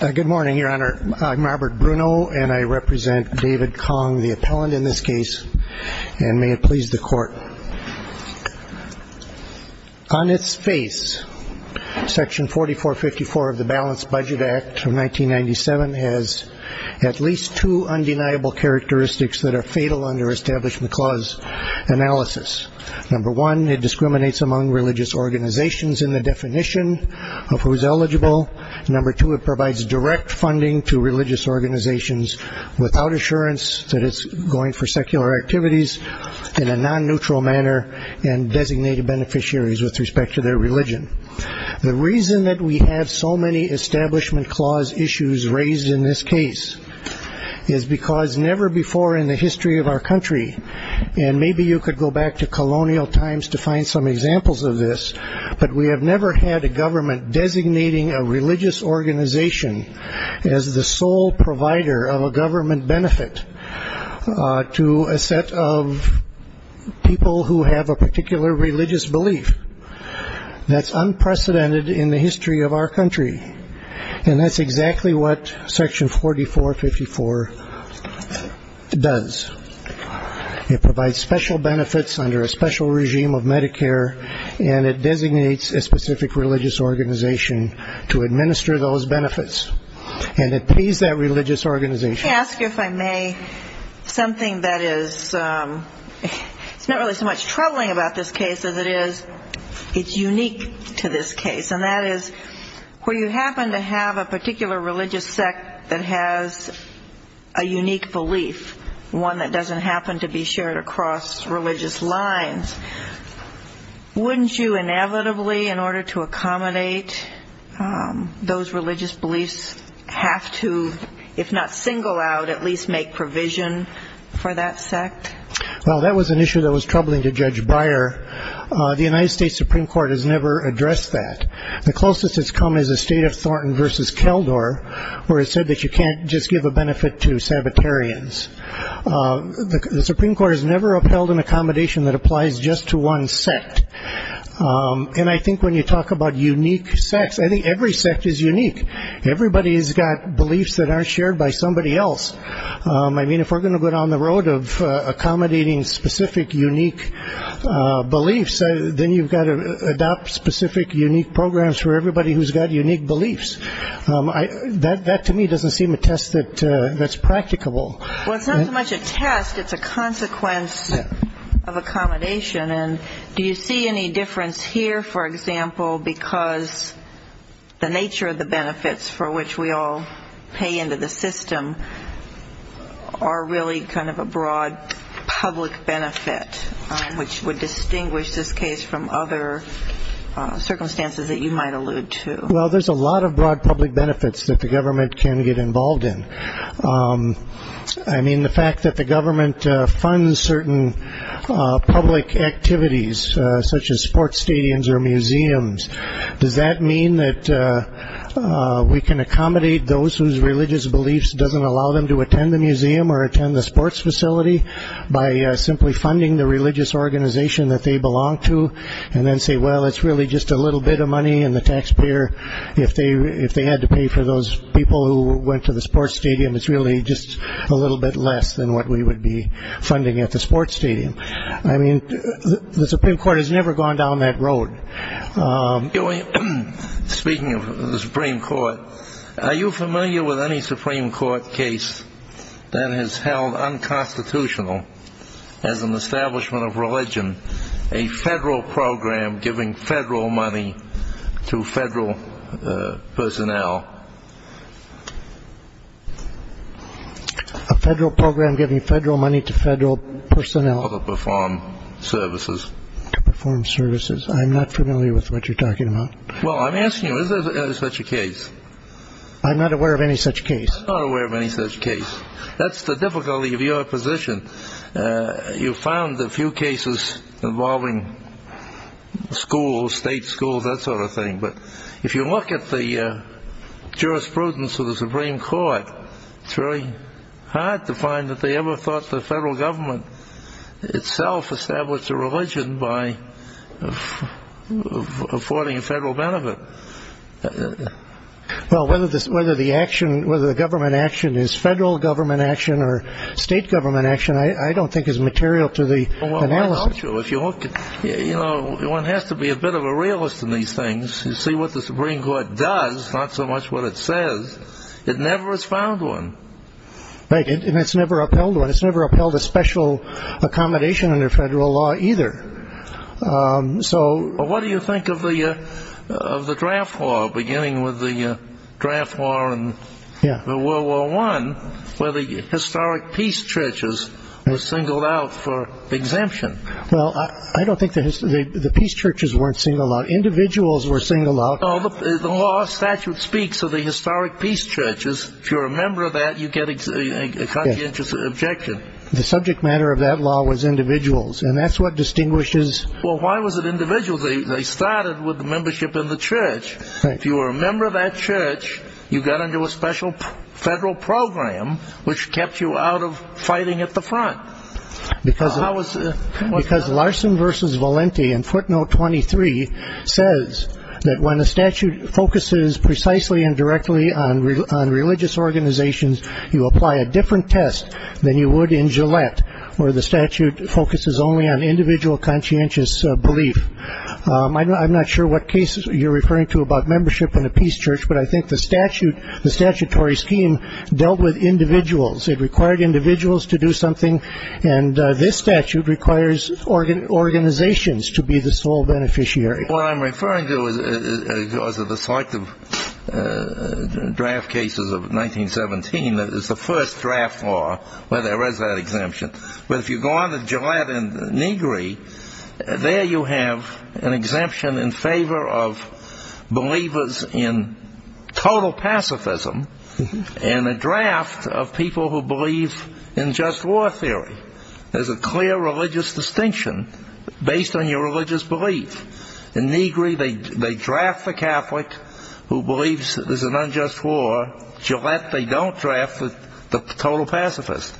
Good morning, Your Honor. I'm Robert Bruno, and I represent David Kong, the appellant in this case, and may it please the Court. On its face, Section 4454 of the Balanced Budget Act of 1997 has at least two undeniable characteristics that are fatal under Establishment Clause analysis. Number one, it discriminates among religious organizations in the definition of who's eligible. Number two, it provides direct funding to religious organizations without assurance that it's going for secular activities in a non-neutral manner and designated beneficiaries with respect to their religion. The reason that we have so many Establishment Clause issues raised in this case is because never before in the history of our country, and maybe you could go back to colonial times to find some examples of this, but we have never had a government designating a religious organization as the sole provider of a government benefit to a set of people who have a particular religious belief. That's unprecedented in the history of our country, and that's exactly what Section 4454 does. It provides special benefits under a special regime of Medicare, and it designates a specific religious organization to administer those benefits, and it pays that religious organization. Let me ask you, if I may, something that is not really so much troubling about this case as it is it's unique to this case, and that is where you happen to have a particular religious sect that has a unique belief, one that doesn't happen to be shared across religious lines, wouldn't you inevitably, in order to accommodate those religious beliefs, have to, if not single out, at least make provision for that sect? Well, that was an issue that was troubling to Judge Breyer. The United States Supreme Court has never addressed that. The closest it's come is the State of Thornton v. Keldor, where it said that you can't just give a benefit to Sabbatarians. The Supreme Court has never upheld an accommodation that applies just to one sect. And I think when you talk about unique sects, I think every sect is unique. Everybody has got beliefs that aren't shared by somebody else. I mean, if we're going to go down the road of accommodating specific unique beliefs, then you've got to adopt specific unique programs for everybody who's got unique beliefs. That, to me, doesn't seem a test that's practicable. Well, it's not so much a test. It's a consequence of accommodation. And do you see any difference here, for example, because the nature of the benefits for which we all pay into the system are really kind of a broad public benefit, which would distinguish this case from other circumstances that you might allude to? Well, there's a lot of broad public benefits that the government can get involved in. I mean, the fact that the government funds certain public activities, such as sports stadiums or museums, does that mean that we can accommodate those whose religious beliefs doesn't allow them to attend the museum or attend the sports facility by simply funding the religious organization that they belong to and then say, well, it's really just a little bit of money, and the taxpayer, if they had to pay for those people who went to the sports stadium, it's really just a little bit less than what we would be funding at the sports stadium. I mean, the Supreme Court has never gone down that road. Speaking of the Supreme Court, are you familiar with any Supreme Court case that has held unconstitutional as an establishment of religion a federal program giving federal money to federal personnel? A federal program giving federal money to federal personnel? To perform services. To perform services. I'm not familiar with what you're talking about. Well, I'm asking you, is there such a case? I'm not aware of any such case. I'm not aware of any such case. That's the difficulty of your position. You found a few cases involving schools, state schools, that sort of thing, but if you look at the jurisprudence of the Supreme Court, it's really hard to find that they ever thought the federal government itself established a religion by affording a federal benefit. Well, whether the government action is federal government action or state government action, I don't think is material to the analysis. I'll tell you, one has to be a bit of a realist in these things to see what the Supreme Court does, not so much what it says. It never has found one. Right, and it's never upheld one. It's never upheld a special accommodation under federal law either. So what do you think of the draft law, beginning with the draft law in World War I, where the historic peace churches were singled out for exemption? Well, I don't think the peace churches weren't singled out. Individuals were singled out. Well, the law statute speaks of the historic peace churches. If you're a member of that, you get a conscientious objection. The subject matter of that law was individuals, and that's what distinguishes. Well, why was it individuals? They started with the membership in the church. If you were a member of that church, you got into a special federal program, which kept you out of fighting at the front. Because Larson v. Valenti in footnote 23 says that when a statute focuses precisely and directly on religious organizations, you apply a different test than you would in Gillette, where the statute focuses only on individual conscientious belief. I'm not sure what cases you're referring to about membership in a peace church, but I think the statutory scheme dealt with individuals. It required individuals to do something, and this statute requires organizations to be the sole beneficiary. What I'm referring to, as of the selective draft cases of 1917, is the first draft law where there is that exemption. But if you go on to Gillette and Negri, there you have an exemption in favor of believers in total pacifism and a draft of people who believe in just war theory. There's a clear religious distinction based on your religious belief. In Negri, they draft the Catholic who believes there's an unjust war. Gillette, they don't draft the total pacifist.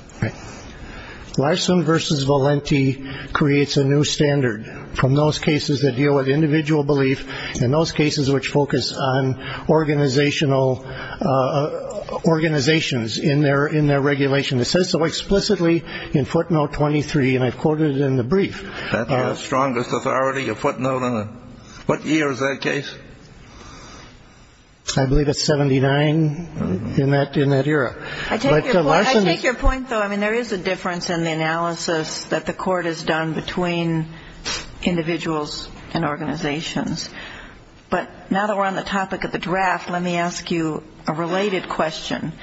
Larson v. Valenti creates a new standard from those cases that deal with individual belief and those cases which focus on organizations in their regulation. It says so explicitly in footnote 23, and I've quoted it in the brief. That's our strongest authority, a footnote in a what year is that case? I believe it's 79 in that era. I take your point, though. I mean, there is a difference in the analysis that the Court has done between individuals and organizations. But now that we're on the topic of the draft, let me ask you a related question.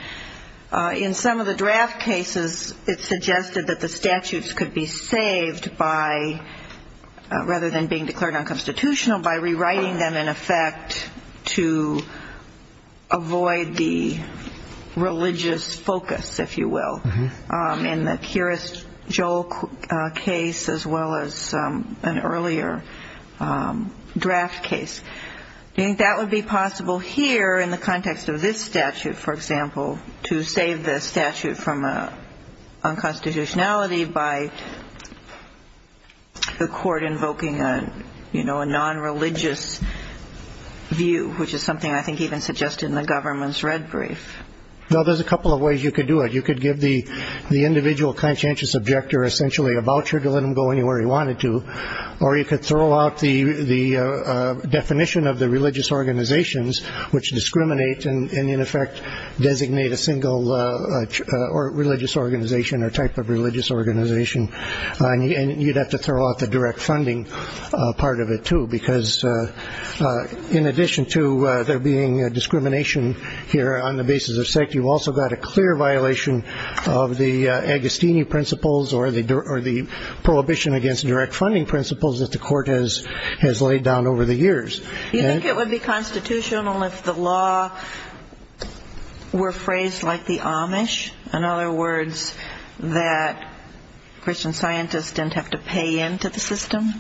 In some of the draft cases, it suggested that the statutes could be saved by, rather than being declared unconstitutional, by rewriting them in effect to avoid the religious focus, if you will, in the Kearest-Joel case as well as an earlier draft case. Do you think that would be possible here in the context of this statute, for example, to save the statute from unconstitutionality by the Court invoking a nonreligious view, which is something I think even suggested in the government's red brief? No, there's a couple of ways you could do it. You could give the individual conscientious objector essentially a voucher to let him go anywhere he wanted to, or you could throw out the definition of the religious organizations, which discriminate and in effect designate a single religious organization or type of religious organization. And you'd have to throw out the direct funding part of it, too, because in addition to there being discrimination here on the basis of sect, you've also got a clear violation of the Agostini principles or the prohibition against direct funding principles that the Court has laid down over the years. Do you think it would be constitutional if the law were phrased like the Amish, in other words, that Christian scientists didn't have to pay into the system?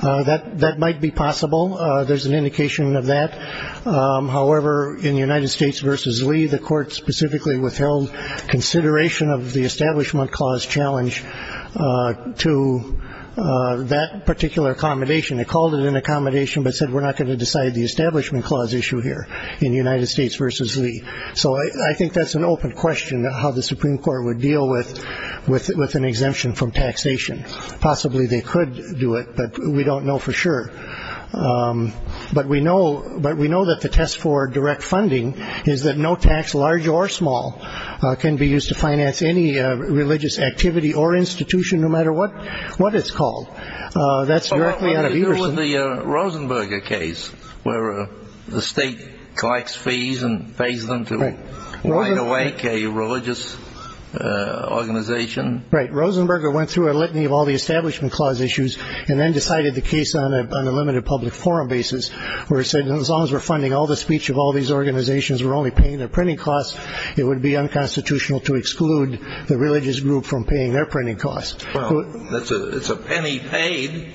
That might be possible. There's an indication of that. However, in the United States v. Lee, the Court specifically withheld consideration of the Establishment Clause challenge to that particular accommodation. It called it an accommodation but said we're not going to decide the Establishment Clause issue here in the United States v. Lee. So I think that's an open question of how the Supreme Court would deal with an exemption from taxation. Possibly they could do it, but we don't know for sure. But we know that the test for direct funding is that no tax, large or small, can be used to finance any religious activity or institution, no matter what it's called. That's directly out of Everson. What about the Rosenberger case where the state collects fees and pays them to wind awake a religious organization? Right. Rosenberger went through a litany of all the Establishment Clause issues and then decided the case on a limited public forum basis where it said, as long as we're funding all the speech of all these organizations, we're only paying their printing costs, it would be unconstitutional to exclude the religious group from paying their printing costs. Well, it's a penny paid.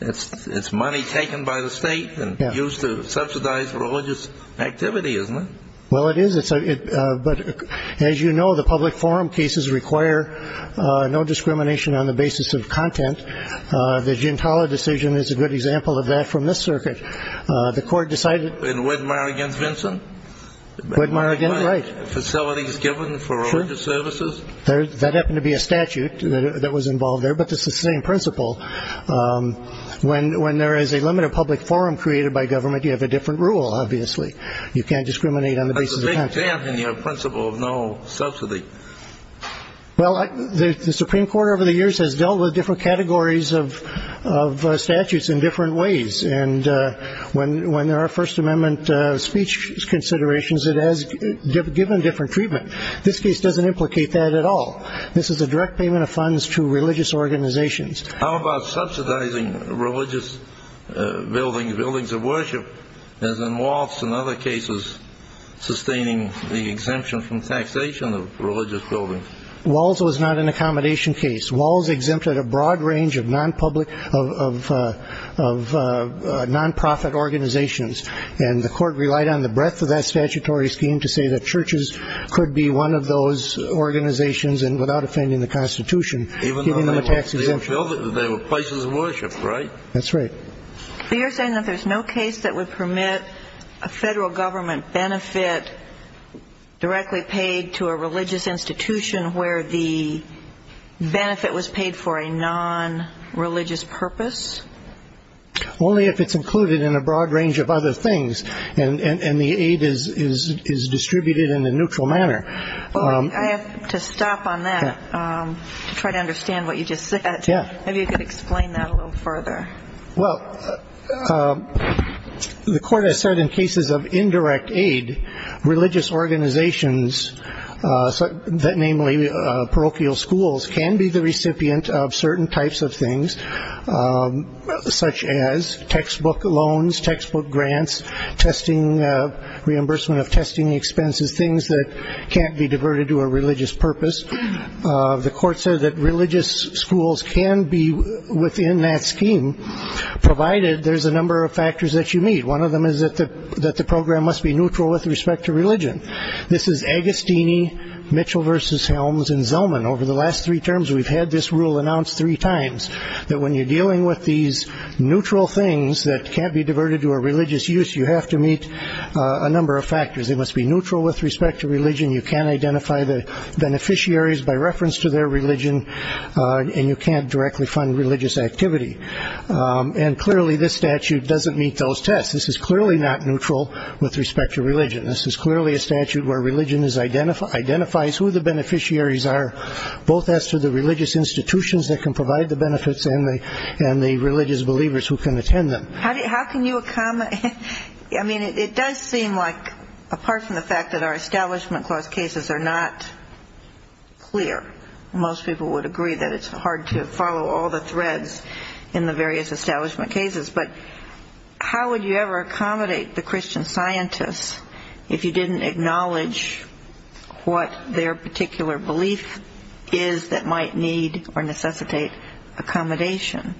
It's money taken by the state and used to subsidize religious activity, isn't it? Well, it is. But as you know, the public forum cases require no discrimination on the basis of content. The Gintala decision is a good example of that from this circuit. The court decided. And Widmar against Vinson? Widmar against, right. Facilities given for religious services? That happened to be a statute that was involved there, but it's the same principle. When there is a limited public forum created by government, you have a different rule, obviously. You can't discriminate on the basis of content. That's a big dent in your principle of no subsidy. Well, the Supreme Court over the years has dealt with different categories of statutes in different ways. And when there are First Amendment speech considerations, it has given different treatment. This case doesn't implicate that at all. This is a direct payment of funds to religious organizations. How about subsidizing religious buildings, buildings of worship, as in Walsh and other cases, sustaining the exemption from taxation of religious buildings? Walsh was not an accommodation case. Walsh exempted a broad range of nonprofit organizations. And the court relied on the breadth of that statutory scheme to say that churches could be one of those organizations and without offending the Constitution, giving them a tax exemption. Even though they were places of worship, right? That's right. So you're saying that there's no case that would permit a federal government benefit directly paid to a religious institution where the benefit was paid for a nonreligious purpose? Only if it's included in a broad range of other things and the aid is distributed in a neutral manner. I have to stop on that to try to understand what you just said. Maybe you could explain that a little further. Well, the court has said in cases of indirect aid, religious organizations, namely parochial schools, can be the recipient of certain types of things, such as textbook loans, textbook grants, reimbursement of testing expenses, things that can't be diverted to a religious purpose. The court said that religious schools can be within that scheme, provided there's a number of factors that you meet. One of them is that the program must be neutral with respect to religion. This is Agostini, Mitchell v. Helms, and Zellman. Over the last three terms, we've had this rule announced three times, that when you're dealing with these neutral things that can't be diverted to a religious use, you have to meet a number of factors. They must be neutral with respect to religion. You can't identify the beneficiaries by reference to their religion, and you can't directly fund religious activity. And clearly this statute doesn't meet those tests. This is clearly not neutral with respect to religion. This is clearly a statute where religion identifies who the beneficiaries are, both as to the religious institutions that can provide the benefits and the religious believers who can attend them. How can you accommodate? I mean, it does seem like, apart from the fact that our Establishment Clause cases are not clear, most people would agree that it's hard to follow all the threads in the various establishment cases, but how would you ever accommodate the Christian scientists if you didn't acknowledge what their particular belief is that might need or necessitate accommodation?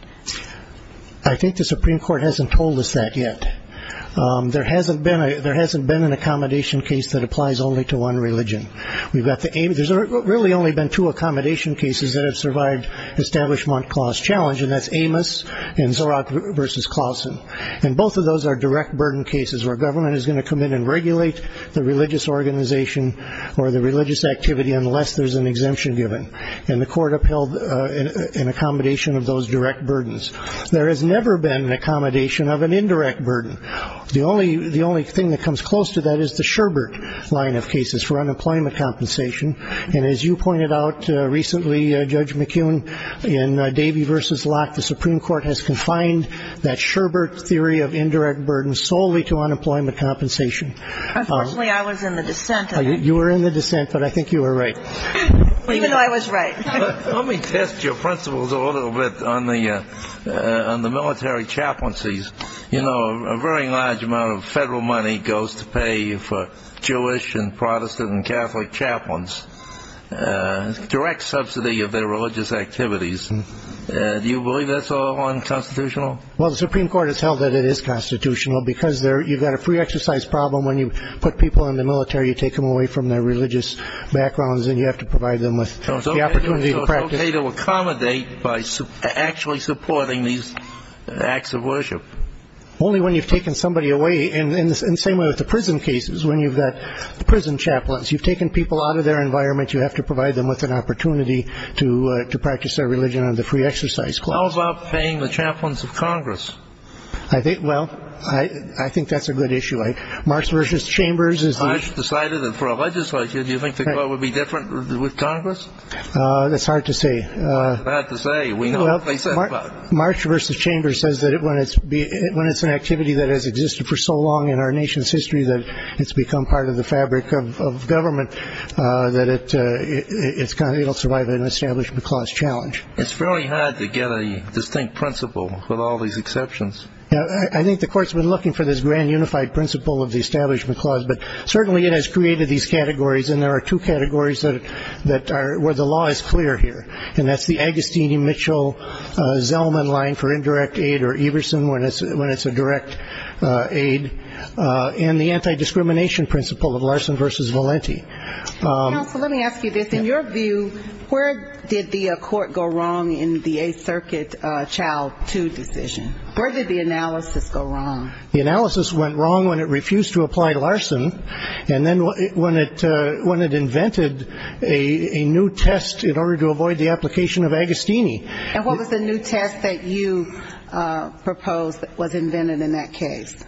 I think the Supreme Court hasn't told us that yet. There hasn't been an accommodation case that applies only to one religion. There's really only been two accommodation cases that have survived the Establishment Clause challenge, and that's Amos and Zorot v. Clausen. And both of those are direct burden cases where government is going to come in and regulate the religious organization or the religious activity unless there's an exemption given. And the Court upheld an accommodation of those direct burdens. There has never been an accommodation of an indirect burden. The only thing that comes close to that is the Sherbert line of cases for unemployment compensation. And as you pointed out recently, Judge McKeown, in Davey v. Locke, the Supreme Court has confined that Sherbert theory of indirect burden solely to unemployment compensation. Unfortunately, I was in the dissent. You were in the dissent, but I think you were right. Even though I was right. Let me test your principles a little bit on the military chaplaincies. You know, a very large amount of federal money goes to pay for Jewish and Protestant and Catholic chaplains, direct subsidy of their religious activities. Do you believe that's all unconstitutional? Well, the Supreme Court has held that it is constitutional because you've got a free exercise problem. When you put people in the military, you take them away from their religious backgrounds, and you have to provide them with the opportunity to practice. How do you pay to accommodate by actually supporting these acts of worship? Only when you've taken somebody away. And the same way with the prison cases, when you've got the prison chaplains. You've taken people out of their environment. You have to provide them with an opportunity to practice their religion under the free exercise clause. How about paying the chaplains of Congress? Well, I think that's a good issue. Marx v. Chambers is the... I've decided that for a legislator, do you think the court would be different with Congress? That's hard to say. It's hard to say. Marx v. Chambers says that when it's an activity that has existed for so long in our nation's history that it's become part of the fabric of government, that it will survive an establishment clause challenge. It's fairly hard to get a distinct principle with all these exceptions. I think the court's been looking for this grand unified principle of the establishment clause, but certainly it has created these categories, and there are two categories where the law is clear here, and that's the Agostini-Mitchell-Zellman line for indirect aid or Everson when it's a direct aid, and the anti-discrimination principle of Larson v. Valenti. Counsel, let me ask you this. In your view, where did the court go wrong in the Eighth Circuit Child 2 decision? Where did the analysis go wrong? The analysis went wrong when it refused to apply Larson, and then when it invented a new test in order to avoid the application of Agostini. And what was the new test that you proposed that was invented in that case?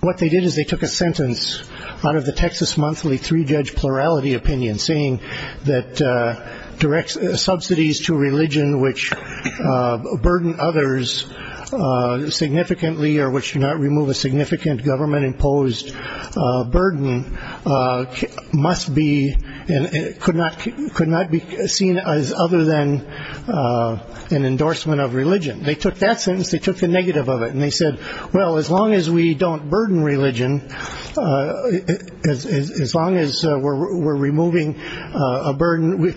What they did is they took a sentence out of the Texas Monthly Three-Judge Plurality Opinion saying that direct subsidies to religion which burden others significantly or which do not remove a significant government-imposed burden must be and could not be seen as other than an endorsement of religion. They took that sentence. They took the negative of it, and they said, well, as long as we don't burden religion, as long as we're removing a burden,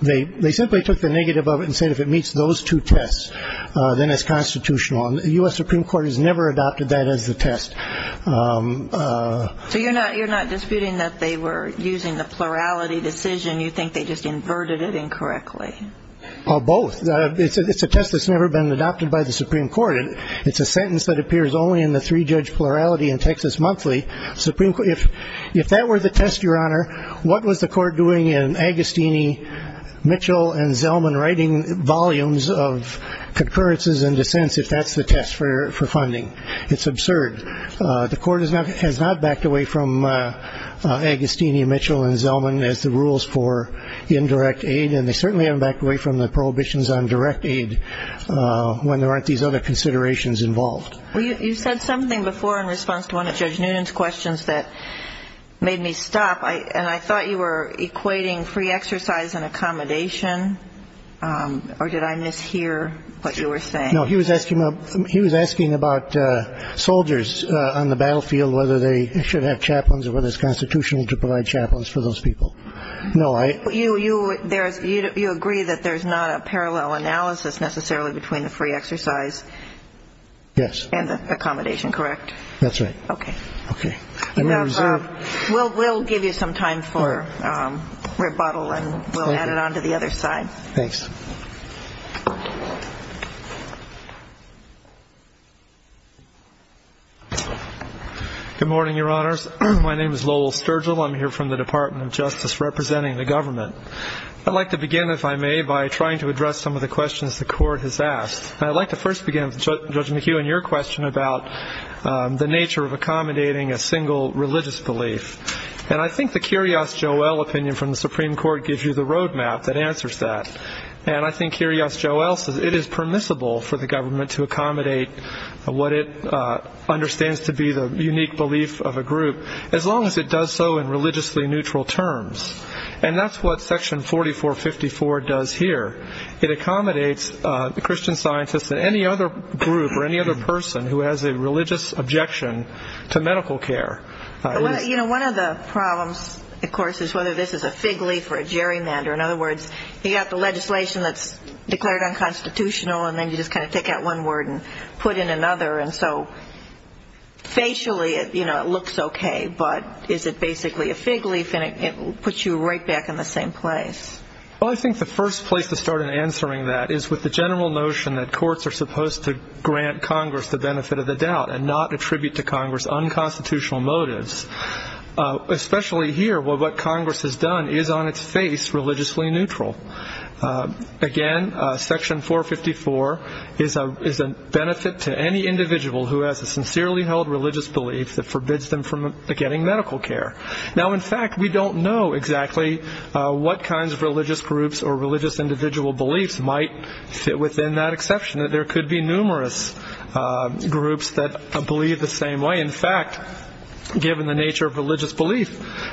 they simply took the negative of it and said if it meets those two tests, then it's constitutional. The U.S. Supreme Court has never adopted that as the test. So you're not disputing that they were using the plurality decision? You think they just inverted it incorrectly? Both. It's a test that's never been adopted by the Supreme Court. It's a sentence that appears only in the three-judge plurality in Texas Monthly. If that were the test, Your Honor, what was the court doing in Agostini, Mitchell, and Zellman writing volumes of concurrences and dissents if that's the test for funding? It's absurd. The court has not backed away from Agostini, Mitchell, and Zellman as the rules for indirect aid, and they certainly haven't backed away from the prohibitions on direct aid when there aren't these other considerations involved. You said something before in response to one of Judge Noonan's questions that made me stop, and I thought you were equating free exercise and accommodation, or did I mishear what you were saying? No, he was asking about soldiers on the battlefield, whether they should have chaplains or whether it's constitutional to provide chaplains for those people. No, I — You agree that there's not a parallel analysis necessarily between the free exercise — Yes. — and the accommodation, correct? That's right. Okay. Okay. We'll give you some time for rebuttal, and we'll add it on to the other side. Thanks. Good morning, Your Honors. My name is Lowell Sturgill. I'm here from the Department of Justice representing the government. I'd like to begin, if I may, by trying to address some of the questions the court has asked. I'd like to first begin, Judge McHugh, in your question about the nature of accommodating a single religious belief. And I think the Kyrgios-Joel opinion from the Supreme Court gives you the roadmap that answers that. And I think Kyrgios-Joel says it is permissible for the government to accommodate what it understands to be the unique belief of a group, as long as it does so in religiously neutral terms. And that's what Section 4454 does here. It accommodates the Christian scientists and any other group or any other person who has a religious objection to medical care. You know, one of the problems, of course, is whether this is a fig leaf or a gerrymander. In other words, you have the legislation that's declared unconstitutional, and then you just kind of take out one word and put in another. And so facially, you know, it looks okay, but is it basically a fig leaf, and it puts you right back in the same place? Well, I think the first place to start in answering that is with the general notion that courts are supposed to grant Congress the benefit of the doubt and not attribute to Congress unconstitutional motives. Especially here, what Congress has done is on its face religiously neutral. Again, Section 454 is a benefit to any individual who has a sincerely held religious belief that forbids them from getting medical care. Now, in fact, we don't know exactly what kinds of religious groups or religious individual beliefs might fit within that exception, that there could be numerous groups that believe the same way. In fact, given the nature of religious belief,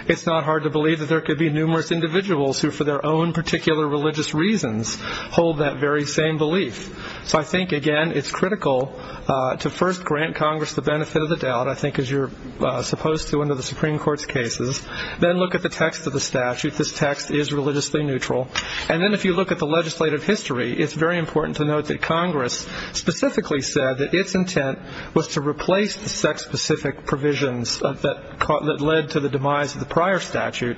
it's not hard to believe that there could be numerous individuals who for their own particular religious reasons hold that very same belief. So I think, again, it's critical to first grant Congress the benefit of the doubt, I think as you're supposed to under the Supreme Court's cases. Then look at the text of the statute. This text is religiously neutral. And then if you look at the legislative history, it's very important to note that Congress specifically said that its intent was to replace the sex-specific provisions that led to the demise of the prior statute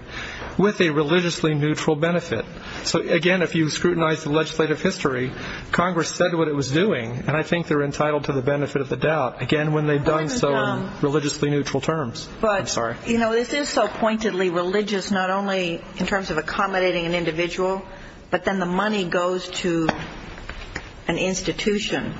with a religiously neutral benefit. So, again, if you scrutinize the legislative history, Congress said what it was doing, and I think they're entitled to the benefit of the doubt. Again, when they've done so in religiously neutral terms. I'm sorry. But, you know, this is so pointedly religious, not only in terms of accommodating an individual, but then the money goes to an institution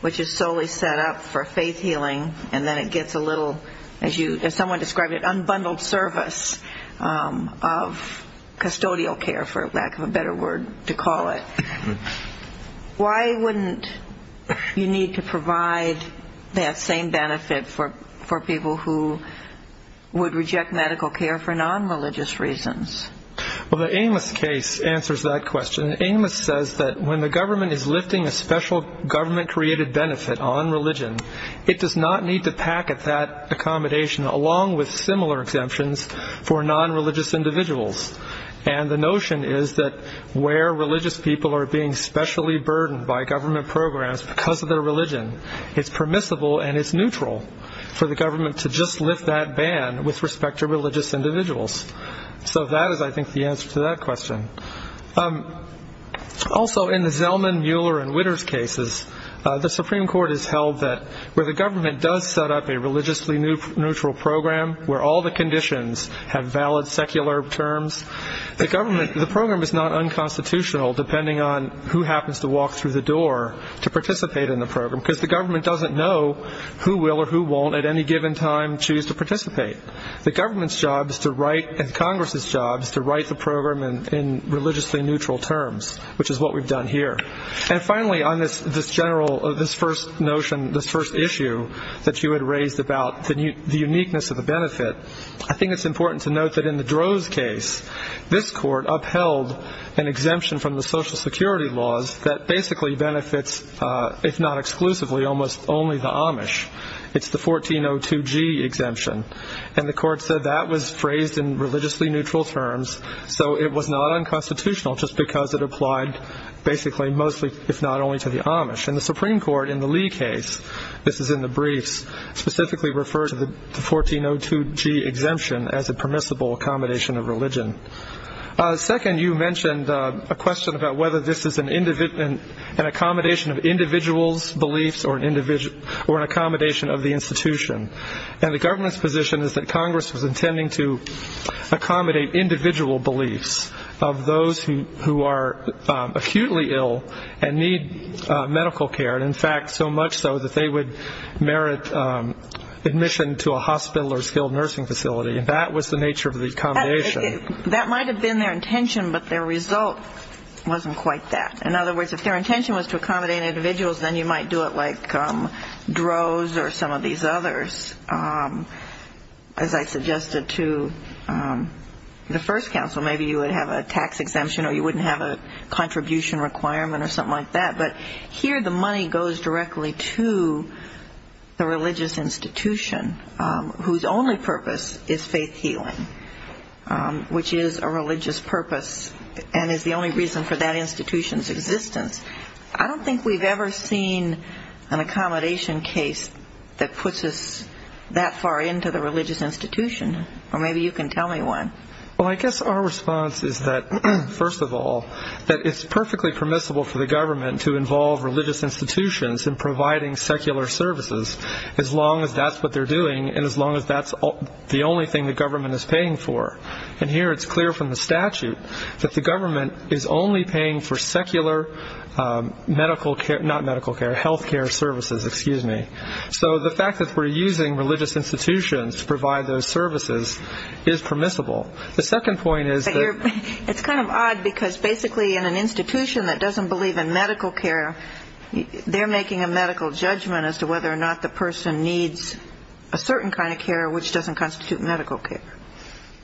which is solely set up for faith healing, and then it gets a little, as someone described it, unbundled service of custodial care, for lack of a better word to call it. Why wouldn't you need to provide that same benefit for people who would reject medical care for non-religious reasons? Well, the Amos case answers that question. Amos says that when the government is lifting a special government-created benefit on religion, it does not need to packet that accommodation, along with similar exemptions, for non-religious individuals. And the notion is that where religious people are being specially burdened by government programs because of their religion, it's permissible and it's neutral for the government to just lift that ban with respect to religious individuals. So that is, I think, the answer to that question. Also, in the Zellman, Mueller, and Witters cases, the Supreme Court has held that where the government does set up a religiously neutral program, where all the conditions have valid secular terms, the program is not unconstitutional depending on who happens to walk through the door to participate in the program because the government doesn't know who will or who won't at any given time choose to participate. The government's job is to write, and Congress's job is to write the program in religiously neutral terms, which is what we've done here. And finally, on this first notion, this first issue that you had raised about the uniqueness of the benefit, I think it's important to note that in the Droz case, this court upheld an exemption from the Social Security laws that basically benefits, if not exclusively, almost only the Amish. It's the 1402G exemption. And the court said that was phrased in religiously neutral terms, so it was not unconstitutional just because it applied basically mostly, if not only, to the Amish. And the Supreme Court in the Lee case, this is in the briefs, specifically referred to the 1402G exemption as a permissible accommodation of religion. Second, you mentioned a question about whether this is an accommodation of individuals' beliefs or an accommodation of the institution. And the government's position is that Congress was intending to accommodate individual beliefs of those who are acutely ill and need medical care, and in fact so much so that they would merit admission to a hospital or skilled nursing facility. And that was the nature of the accommodation. That might have been their intention, but their result wasn't quite that. In other words, if their intention was to accommodate individuals, then you might do it like Droz or some of these others. As I suggested to the first counsel, maybe you would have a tax exemption or you wouldn't have a contribution requirement or something like that. But here the money goes directly to the religious institution whose only purpose is faith healing, which is a religious purpose and is the only reason for that institution's existence. I don't think we've ever seen an accommodation case that puts us that far into the religious institution, or maybe you can tell me one. Well, I guess our response is that, first of all, that it's perfectly permissible for the government to involve religious institutions in providing secular services as long as that's what they're doing and as long as that's the only thing the government is paying for. And here it's clear from the statute that the government is only paying for secular medical care, not medical care, health care services, excuse me. So the fact that we're using religious institutions to provide those services is permissible. The second point is that... It's kind of odd because basically in an institution that doesn't believe in medical care, they're making a medical judgment as to whether or not the person needs a certain kind of care which doesn't constitute medical care.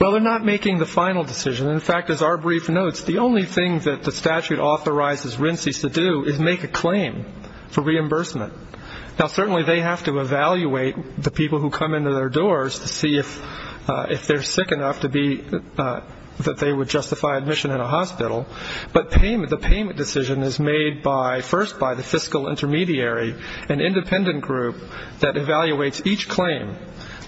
Well, they're not making the final decision. In fact, as our brief notes, the only thing that the statute authorizes RINCES to do is make a claim for reimbursement. Now, certainly they have to evaluate the people who come into their doors to see if they're sick enough that they would justify admission in a hospital, but the payment decision is made first by the fiscal intermediary, an independent group that evaluates each claim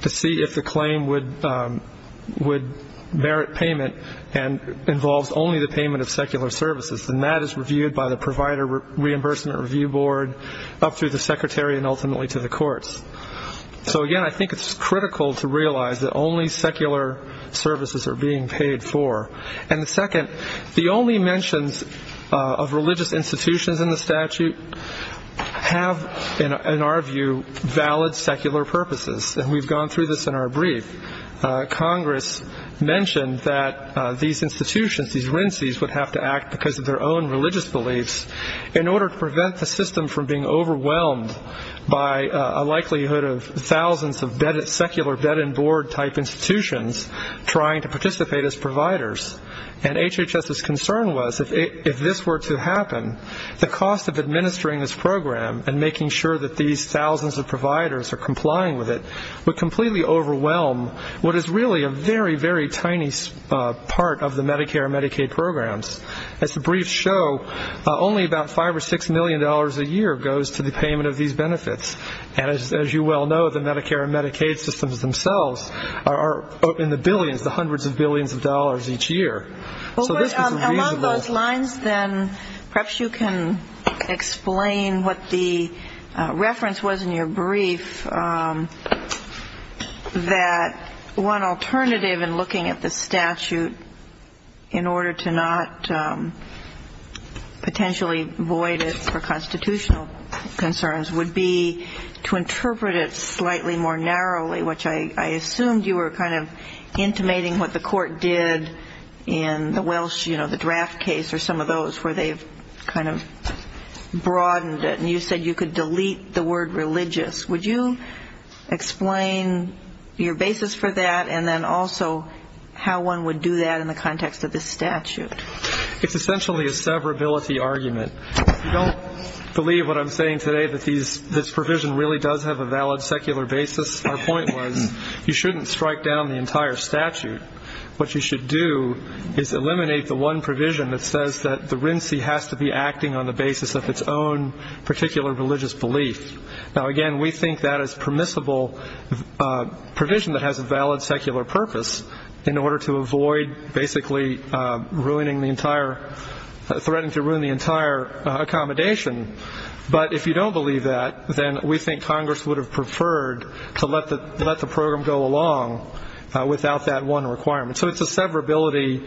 to see if the claim would merit payment and involves only the payment of secular services, and that is reviewed by the provider reimbursement review board up through the secretary and ultimately to the courts. So, again, I think it's critical to realize that only secular services are being paid for. And second, the only mentions of religious institutions in the statute have, in our view, valid secular purposes, and we've gone through this in our brief. Congress mentioned that these institutions, these RINCES, would have to act because of their own religious beliefs in order to prevent the system from being overwhelmed by a likelihood of thousands of secular bed and board type institutions trying to participate as providers. And HHS's concern was if this were to happen, the cost of administering this program and making sure that these thousands of providers are complying with it would completely overwhelm what is really a very, very tiny part of the Medicare and Medicaid programs. As the briefs show, only about $5 million or $6 million a year goes to the payment of these benefits. And as you well know, the Medicare and Medicaid systems themselves are in the billions, the hundreds of billions of dollars each year. So this was a reasonable. Perhaps you can explain what the reference was in your brief, that one alternative in looking at the statute in order to not potentially void it for constitutional concerns would be to interpret it slightly more narrowly, which I assumed you were kind of intimating what the court did in the draft case or some of those where they've kind of broadened it. And you said you could delete the word religious. Would you explain your basis for that and then also how one would do that in the context of this statute? It's essentially a severability argument. If you don't believe what I'm saying today, that this provision really does have a valid secular basis, our point was you shouldn't strike down the entire statute. What you should do is eliminate the one provision that says that the RINC has to be acting on the basis of its own particular religious belief. Now, again, we think that is permissible provision that has a valid secular purpose in order to avoid basically threatening to ruin the entire accommodation. But if you don't believe that, then we think Congress would have preferred to let the program go along without that one requirement. So it's a severability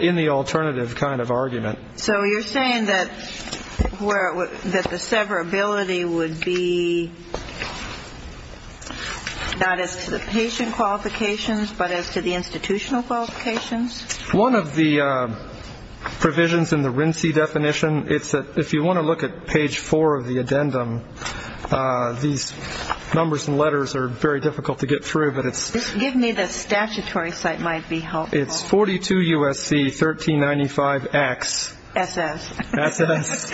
in the alternative kind of argument. So you're saying that the severability would be not as to the patient qualifications but as to the institutional qualifications? One of the provisions in the RINC definition, it's that if you want to look at page four of the addendum, these numbers and letters are very difficult to get through, but it's. Give me the statutory site might be helpful. It's 42 U.S.C. 1395 X. S.S. S.S.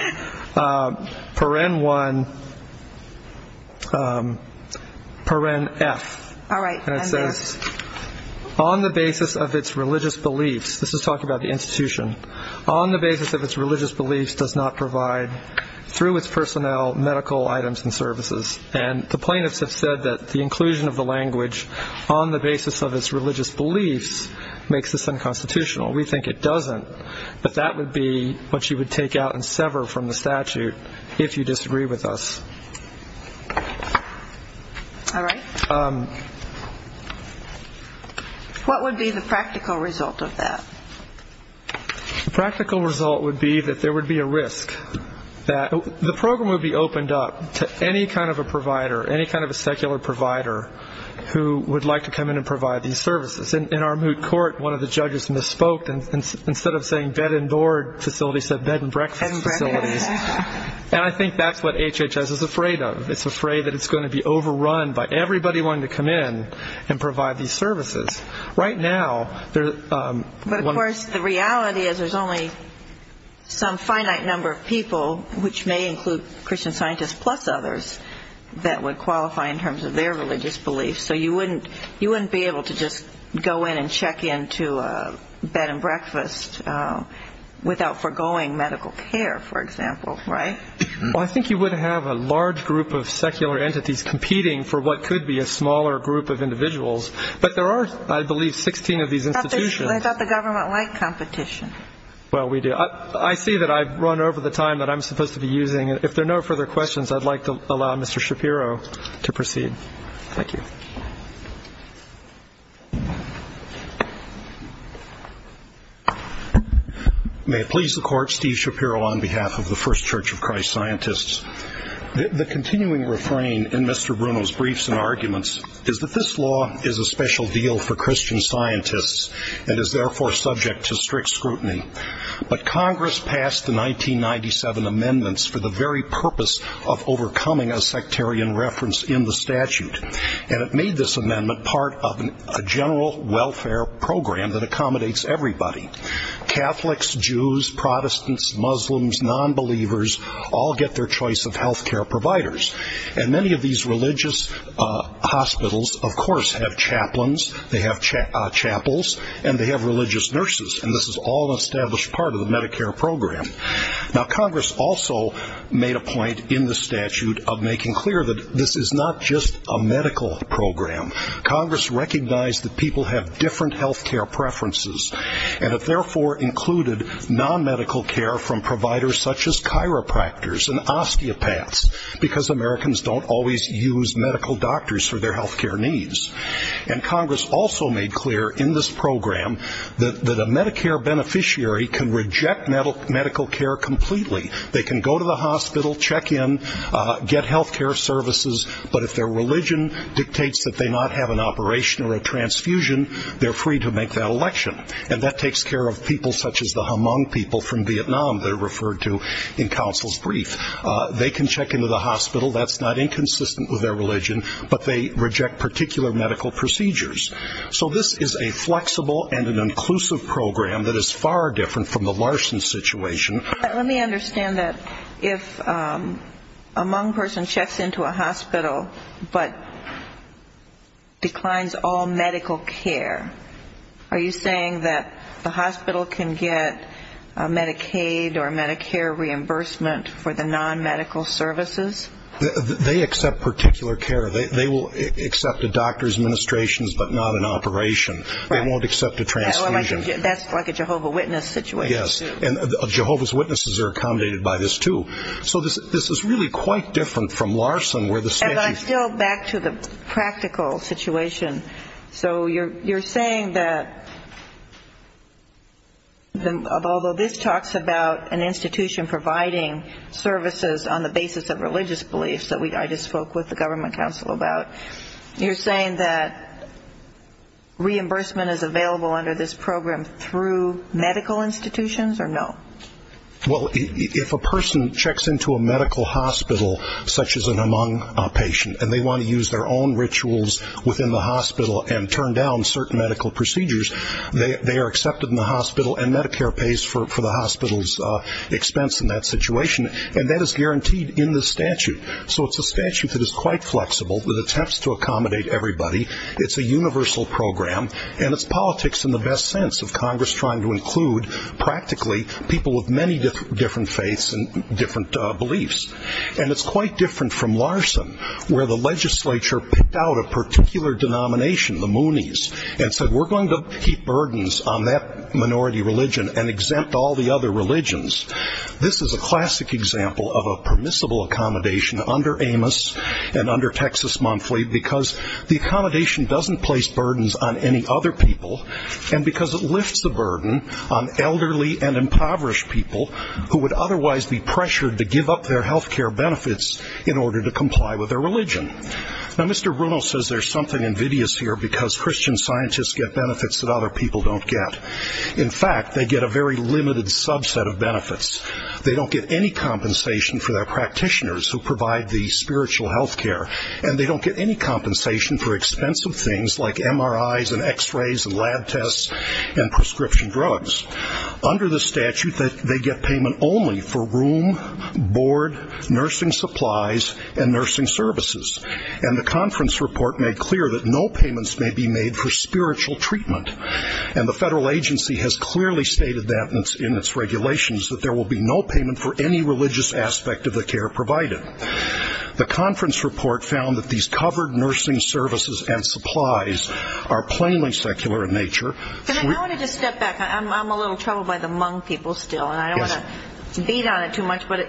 Paren 1, Paren F. All right. And it says on the basis of its religious beliefs. This is talking about the institution on the basis of its religious beliefs does not provide through its personnel medical items and services. And the plaintiffs have said that the inclusion of the language on the basis of its religious beliefs makes this unconstitutional. We think it doesn't. But that would be what you would take out and sever from the statute if you disagree with us. All right. What would be the practical result of that? The practical result would be that there would be a risk that the program would be opened up to any kind of a provider, any kind of a secular provider who would like to come in and provide these services. In our moot court, one of the judges misspoke. Instead of saying bed and board facilities, he said bed and breakfast facilities. And I think that's what HHS is afraid of. It's afraid that it's going to be overrun by everybody wanting to come in and provide these services. Right now, there's one. But, of course, the reality is there's only some finite number of people, which may include Christian scientists plus others, that would qualify in terms of their religious beliefs. So you wouldn't be able to just go in and check into a bed and breakfast without foregoing medical care, for example, right? Well, I think you would have a large group of secular entities competing for what could be a smaller group of individuals. But there are, I believe, 16 of these institutions. I thought the government liked competition. Well, we do. I see that I've run over the time that I'm supposed to be using. If there are no further questions, I'd like to allow Mr. Shapiro to proceed. Thank you. May it please the Court, Steve Shapiro on behalf of the First Church of Christ Scientists. The continuing refrain in Mr. Bruno's briefs and arguments is that this law is a special deal for Christian scientists and is therefore subject to strict scrutiny. But Congress passed the 1997 amendments for the very purpose of overcoming a sectarian reference in the statute. And it made this amendment part of a general welfare program that accommodates everybody. Catholics, Jews, Protestants, Muslims, nonbelievers all get their choice of health care providers. And many of these religious hospitals, of course, have chaplains, they have chapels, and they have religious nurses. And this is all an established part of the Medicare program. Now, Congress also made a point in the statute of making clear that this is not just a medical program. Congress recognized that people have different health care preferences, and it therefore included nonmedical care from providers such as chiropractors and osteopaths, because Americans don't always use medical doctors for their health care needs. And Congress also made clear in this program that a Medicare beneficiary can reject medical care completely. They can go to the hospital, check in, get health care services, but if their religion dictates that they not have an operation or a transfusion, they're free to make that election. And that takes care of people such as the Hmong people from Vietnam that are referred to in counsel's brief. They can check into the hospital. That's not inconsistent with their religion, but they reject particular medical procedures. So this is a flexible and an inclusive program that is far different from the Larson situation. Let me understand that. If a Hmong person checks into a hospital but declines all medical care, are you saying that the hospital can get Medicaid or Medicare reimbursement for the nonmedical services? They accept particular care. They will accept a doctor's administration but not an operation. They won't accept a transfusion. That's like a Jehovah's Witness situation, too. Yes, and Jehovah's Witnesses are accommodated by this, too. Well, I'm still back to the practical situation. So you're saying that although this talks about an institution providing services on the basis of religious beliefs that I just spoke with the government counsel about, you're saying that reimbursement is available under this program through medical institutions or no? Well, if a person checks into a medical hospital, such as an Hmong patient, and they want to use their own rituals within the hospital and turn down certain medical procedures, they are accepted in the hospital, and Medicare pays for the hospital's expense in that situation, and that is guaranteed in the statute. So it's a statute that is quite flexible, that attempts to accommodate everybody. It's a universal program, and it's politics in the best sense of Congress trying to include, practically, people of many different faiths and different beliefs. And it's quite different from Larson, where the legislature picked out a particular denomination, the Moonies, and said we're going to keep burdens on that minority religion and exempt all the other religions. This is a classic example of a permissible accommodation under Amos and under Texas Monthly because the accommodation doesn't place burdens on any other people, and because it lifts the burden on elderly and impoverished people who would otherwise be pressured to give up their health care benefits in order to comply with their religion. Now, Mr. Bruno says there's something invidious here because Christian scientists get benefits that other people don't get. In fact, they get a very limited subset of benefits. They don't get any compensation for their practitioners who provide the spiritual health care, and they don't get any compensation for expensive things like MRIs and X-rays and lab tests and prescription drugs. Under the statute, they get payment only for room, board, nursing supplies, and nursing services. And the conference report made clear that no payments may be made for spiritual treatment, and the federal agency has clearly stated that in its regulations, that there will be no payment for any religious aspect of the care provided. The conference report found that these covered nursing services and supplies are plainly secular in nature. I want to just step back. I'm a little troubled by the Hmong people still, and I don't want to beat on it too much, but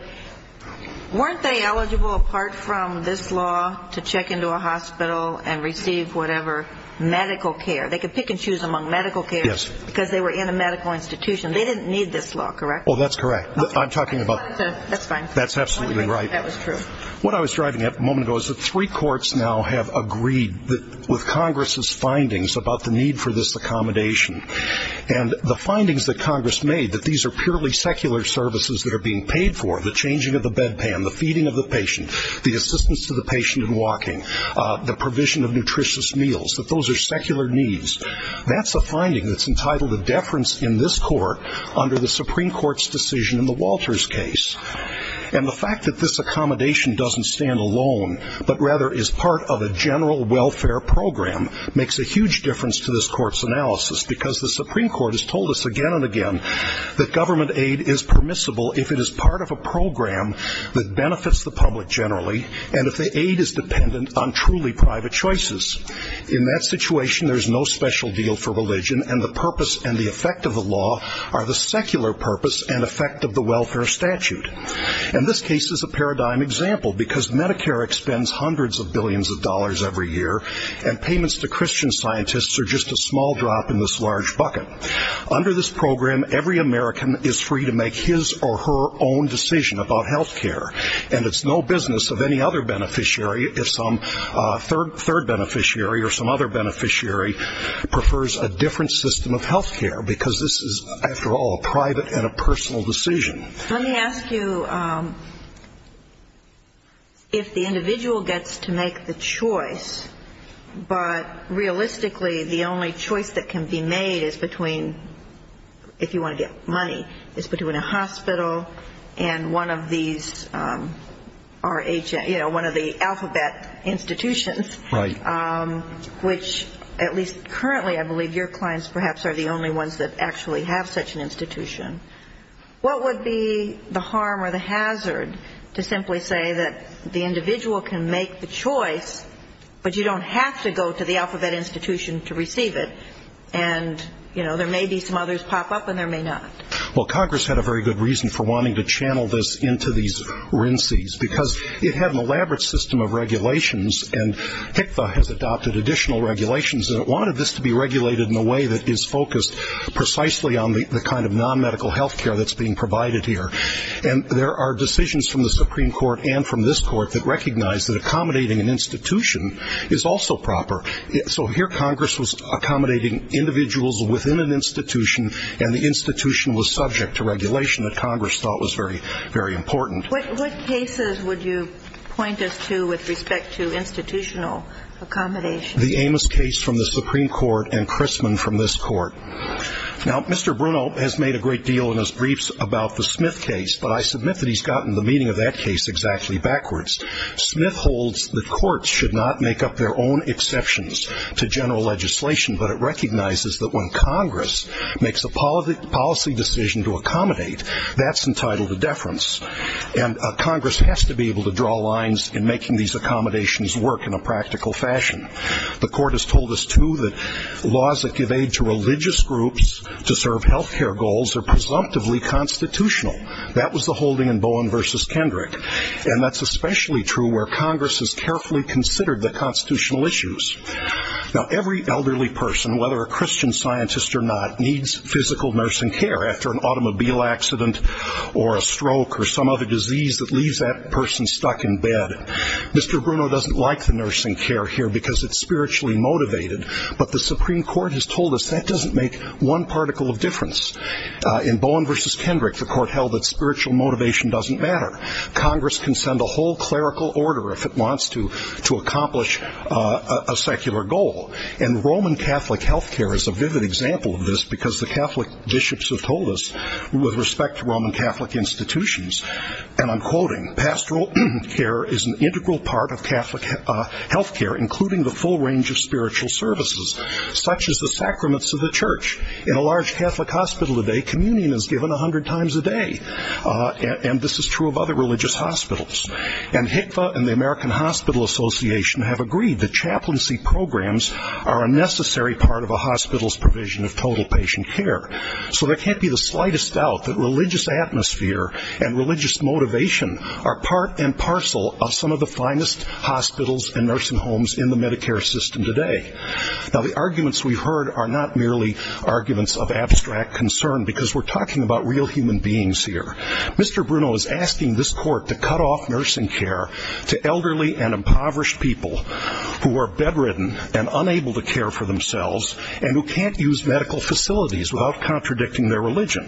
weren't they eligible, apart from this law, to check into a hospital and receive whatever medical care? They could pick and choose among medical care because they were in a medical institution. They didn't need this law, correct? Oh, that's correct. I'm talking about... That's fine. That's absolutely right. That was true. What I was driving at a moment ago is that three courts now have agreed with Congress's findings about the need for this accommodation. And the findings that Congress made, that these are purely secular services that are being paid for, the changing of the bedpan, the feeding of the patient, the assistance to the patient in walking, the provision of nutritious meals, that those are secular needs. That's a finding that's entitled a deference in this court under the Supreme Court's decision in the Walters case. And the fact that this accommodation doesn't stand alone, but rather is part of a general welfare program, makes a huge difference to this court's analysis because the Supreme Court has told us again and again that government aid is permissible if it is part of a program that benefits the public generally and if the aid is dependent on truly private choices. In that situation, there's no special deal for religion, and the purpose and the effect of the law are the secular purpose and effect of the welfare statute. And this case is a paradigm example because Medicare expends hundreds of billions of dollars every year, and payments to Christian scientists are just a small drop in this large bucket. Under this program, every American is free to make his or her own decision about health care, and it's no business of any other beneficiary if some third beneficiary or some other beneficiary prefers a different system of health care, because this is, after all, a private and a personal decision. Let me ask you if the individual gets to make the choice, but realistically the only choice that can be made is between, if you want to get money, is between a hospital and one of these, you know, one of the alphabet institutions, which at least currently I believe your clients perhaps are the only ones that actually have such an institution. What would be the harm or the hazard to simply say that the individual can make the choice, but you don't have to go to the alphabet institution to receive it, and, you know, there may be some others pop up and there may not? Well, Congress had a very good reason for wanting to channel this into these RINCs, because it had an elaborate system of regulations, and HCFA has adopted additional regulations, and it wanted this to be regulated in a way that is focused precisely on the kind of non-medical health care that's being provided here. And there are decisions from the Supreme Court and from this Court that recognize that accommodating an institution is also proper. So here Congress was accommodating individuals within an institution, and the institution was subject to regulation that Congress thought was very important. What cases would you point us to with respect to institutional accommodation? The Amos case from the Supreme Court and Crisman from this Court. Now, Mr. Bruno has made a great deal in his briefs about the Smith case, but I submit that he's gotten the meaning of that case exactly backwards. Smith holds that courts should not make up their own exceptions to general legislation, but it recognizes that when Congress makes a policy decision to accommodate, that's entitled to deference, and Congress has to be able to draw lines in making these accommodations work in a practical fashion. The Court has told us, too, that laws that give aid to religious groups to serve health care goals are presumptively constitutional. That was the holding in Bowen v. Kendrick, and that's especially true where Congress has carefully considered the constitutional issues. Now, every elderly person, whether a Christian scientist or not, needs physical nursing care after an automobile accident or a stroke or some other disease that leaves that person stuck in bed. Mr. Bruno doesn't like the nursing care here because it's spiritually motivated, but the Supreme Court has told us that doesn't make one particle of difference. In Bowen v. Kendrick, the Court held that spiritual motivation doesn't matter. Congress can send a whole clerical order if it wants to accomplish a secular goal, and Roman Catholic health care is a vivid example of this because the Catholic bishops have told us with respect to Roman Catholic institutions, and I'm quoting, pastoral care is an integral part of Catholic health care, including the full range of spiritual services, such as the sacraments of the church. In a large Catholic hospital today, communion is given 100 times a day, and this is true of other religious hospitals. And HCFA and the American Hospital Association have agreed that chaplaincy programs are a necessary part of a hospital's provision of total patient care. So there can't be the slightest doubt that religious atmosphere and religious motivation are part and parcel of some of the finest hospitals and nursing homes in the Medicare system today. Now, the arguments we've heard are not merely arguments of abstract concern because we're talking about real human beings here. Mr. Bruno is asking this Court to cut off nursing care to elderly and impoverished people who are bedridden and unable to care for themselves and who can't use medical facilities without contradicting their religion.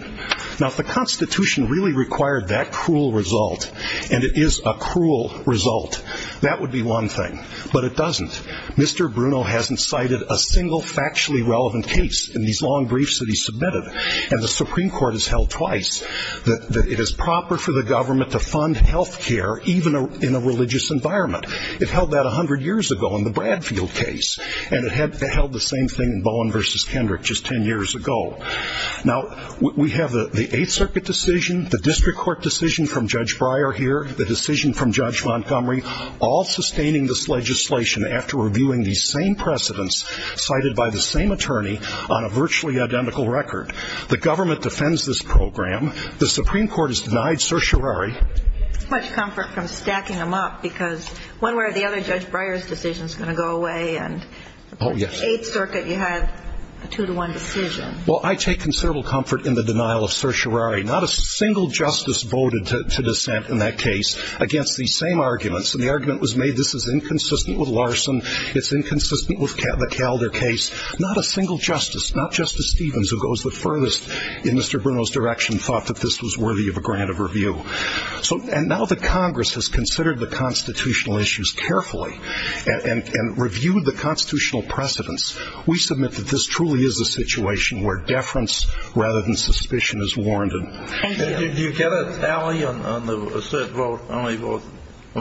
Now, if the Constitution really required that cruel result, and it is a cruel result, that would be one thing, but it doesn't. Mr. Bruno hasn't cited a single factually relevant case in these long briefs that he's submitted, and the Supreme Court has held twice that it is proper for the government to fund health care even in a religious environment. It held that 100 years ago in the Bradfield case, and it held the same thing in Bowen v. Kendrick just 10 years ago. Now, we have the Eighth Circuit decision, the district court decision from Judge Breyer here, the decision from Judge Montgomery, all sustaining this legislation after reviewing these same precedents cited by the same attorney on a virtually identical record. The government defends this program. The Supreme Court has denied certiorari. There's too much comfort from stacking them up because one way or the other, Judge Breyer's decision is going to go away, and the Eighth Circuit, you have a two-to-one decision. Well, I take considerable comfort in the denial of certiorari. Not a single justice voted to dissent in that case against these same arguments, and the argument was made this is inconsistent with Larson, it's inconsistent with the Calder case. Not a single justice, not Justice Stevens, who goes the furthest in Mr. Bruno's direction, thought that this was worthy of a grant of review. And now that Congress has considered the constitutional issues carefully and reviewed the constitutional precedents, we submit that this truly is a situation where deference rather than suspicion is warranted. Thank you. Did you get a tally on the cert vote? How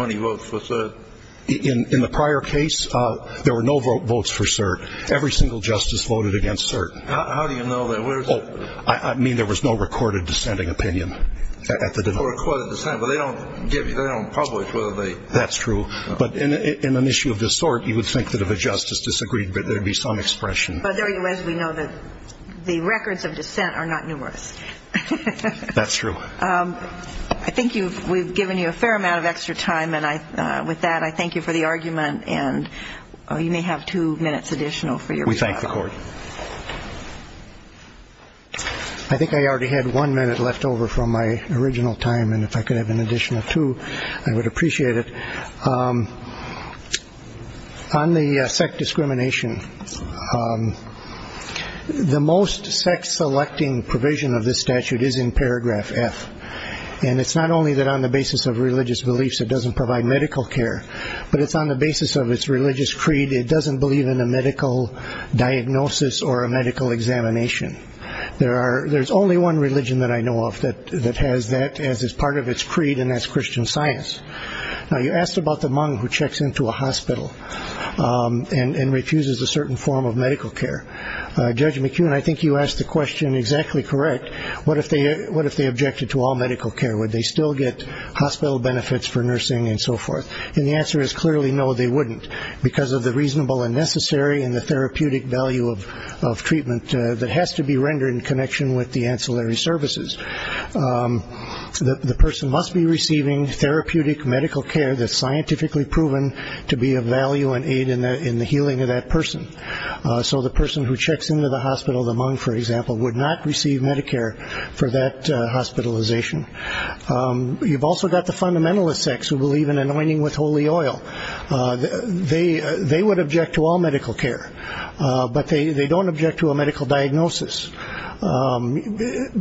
many votes for cert? In the prior case, there were no votes for cert. Every single justice voted against cert. How do you know that? Where is it? I mean, there was no recorded dissenting opinion at the time. No recorded dissent, but they don't publish whether they... That's true. But in an issue of this sort, you would think that if a justice disagreed, there would be some expression. As we know, the records of dissent are not numerous. That's true. I think we've given you a fair amount of extra time, and with that I thank you for the argument. And you may have two minutes additional for your reply. We thank the Court. I think I already had one minute left over from my original time, and if I could have an additional two, I would appreciate it. On the sect discrimination, the most sect-selecting provision of this statute is in paragraph F, and it's not only that on the basis of religious beliefs it doesn't provide medical care, but it's on the basis of its religious creed it doesn't believe in a medical diagnosis or a medical examination. There's only one religion that I know of that has that as part of its creed, and that's Christian science. Now, you asked about the monk who checks into a hospital and refuses a certain form of medical care. Judge McKeown, I think you asked the question exactly correct. What if they objected to all medical care? Would they still get hospital benefits for nursing and so forth? And the answer is clearly no, they wouldn't, because of the reasonable and necessary and the therapeutic value of treatment that has to be rendered in connection with the ancillary services. The person must be receiving therapeutic medical care that's scientifically proven to be of value and aid in the healing of that person. So the person who checks into the hospital, the monk, for example, would not receive Medicare for that hospitalization. You've also got the fundamentalist sects who believe in anointing with holy oil. They would object to all medical care, but they don't object to a medical diagnosis,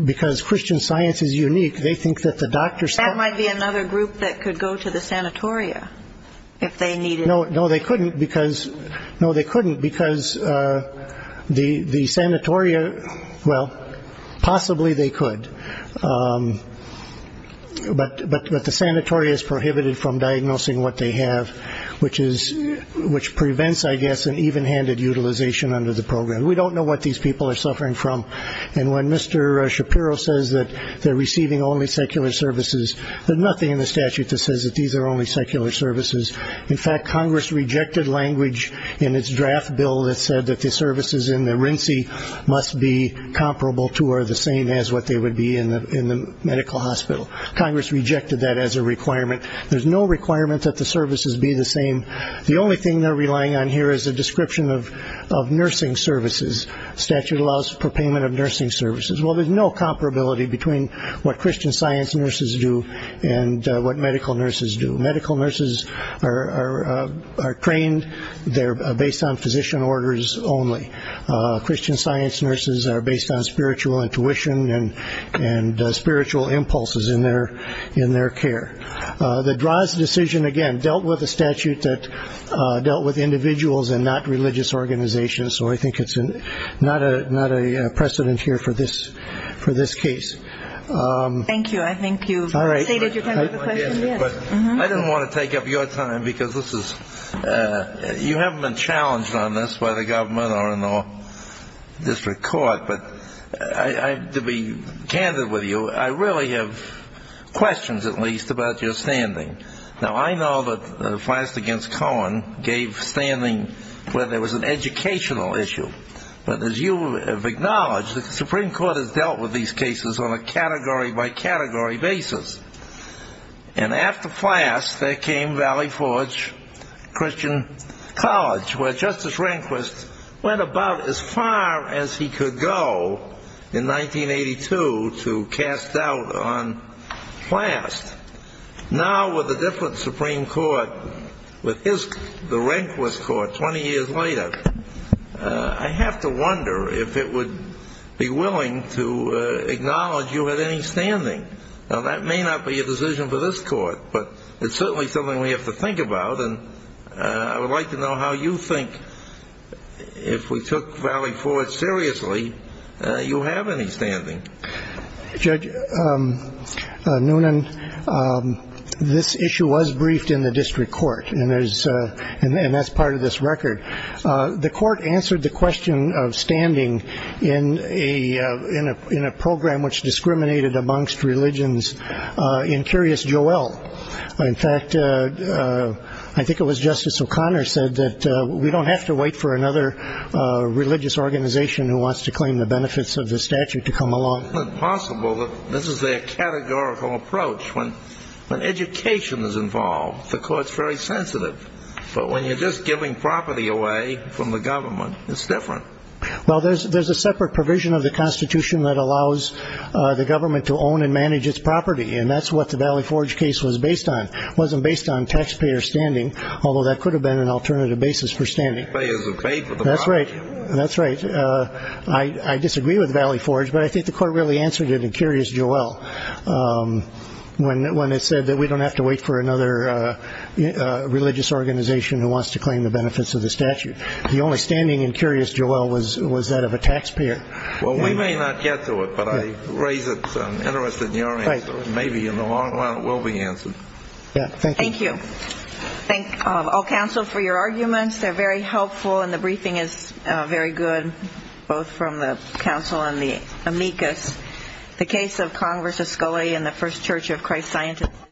because Christian science is unique. They think that the doctors can't. That might be another group that could go to the sanatoria if they needed it. No, they couldn't, because the sanatoria, well, possibly they could, but the sanatoria is prohibited from diagnosing what they have, which prevents, I guess, an even-handed utilization under the program. We don't know what these people are suffering from, and when Mr. Shapiro says that they're receiving only secular services, there's nothing in the statute that says that these are only secular services. In fact, Congress rejected language in its draft bill that said that the services in the rincey must be comparable to or the same as what they would be in the medical hospital. Congress rejected that as a requirement. There's no requirement that the services be the same. The only thing they're relying on here is a description of nursing services. The statute allows for payment of nursing services. Well, there's no comparability between what Christian science nurses do and what medical nurses do. Medical nurses are trained. They're based on physician orders only. Christian science nurses are based on spiritual intuition and spiritual impulses in their care. The Droz decision, again, dealt with a statute that dealt with individuals and not religious organizations, so I think it's not a precedent here for this case. Thank you. I think you've stated your time for the question. I didn't want to take up your time because you haven't been challenged on this by the government or in the district court. But to be candid with you, I really have questions, at least, about your standing. Now, I know that Flass v. Cohen gave standing where there was an educational issue. But as you have acknowledged, the Supreme Court has dealt with these cases on a category-by-category basis. And after Flass, there came Valley Forge Christian College, where Justice Rehnquist went about as far as he could go in 1982 to cast doubt on Flass. Now, with a different Supreme Court, with the Rehnquist Court 20 years later, I have to wonder if it would be willing to acknowledge you had any standing. Now, that may not be a decision for this court, but it's certainly something we have to think about. I would like to know how you think, if we took Valley Forge seriously, you have any standing. Judge Noonan, this issue was briefed in the district court, and that's part of this record. The court answered the question of standing in a program which discriminated amongst religions in Curious Joel. In fact, I think it was Justice O'Connor said that we don't have to wait for another religious organization who wants to claim the benefits of the statute to come along. Isn't it possible that this is a categorical approach? When education is involved, the court's very sensitive. But when you're just giving property away from the government, it's different. Well, there's a separate provision of the Constitution that allows the government to own and manage its property, and that's what the Valley Forge case was based on. It wasn't based on taxpayer standing, although that could have been an alternative basis for standing. That's right. That's right. I disagree with Valley Forge, but I think the court really answered it in Curious Joel when it said that we don't have to wait for another religious organization who wants to claim the benefits of the statute. The only standing in Curious Joel was that of a taxpayer. Well, we may not get to it, but I raise an interest in your answer. Maybe in the long run it will be answered. Thank you. Thank you. Thank all counsel for your arguments. They're very helpful, and the briefing is very good, both from the counsel and the amicus. The case of Congress' Scully and the First Church of Christ's Scientist.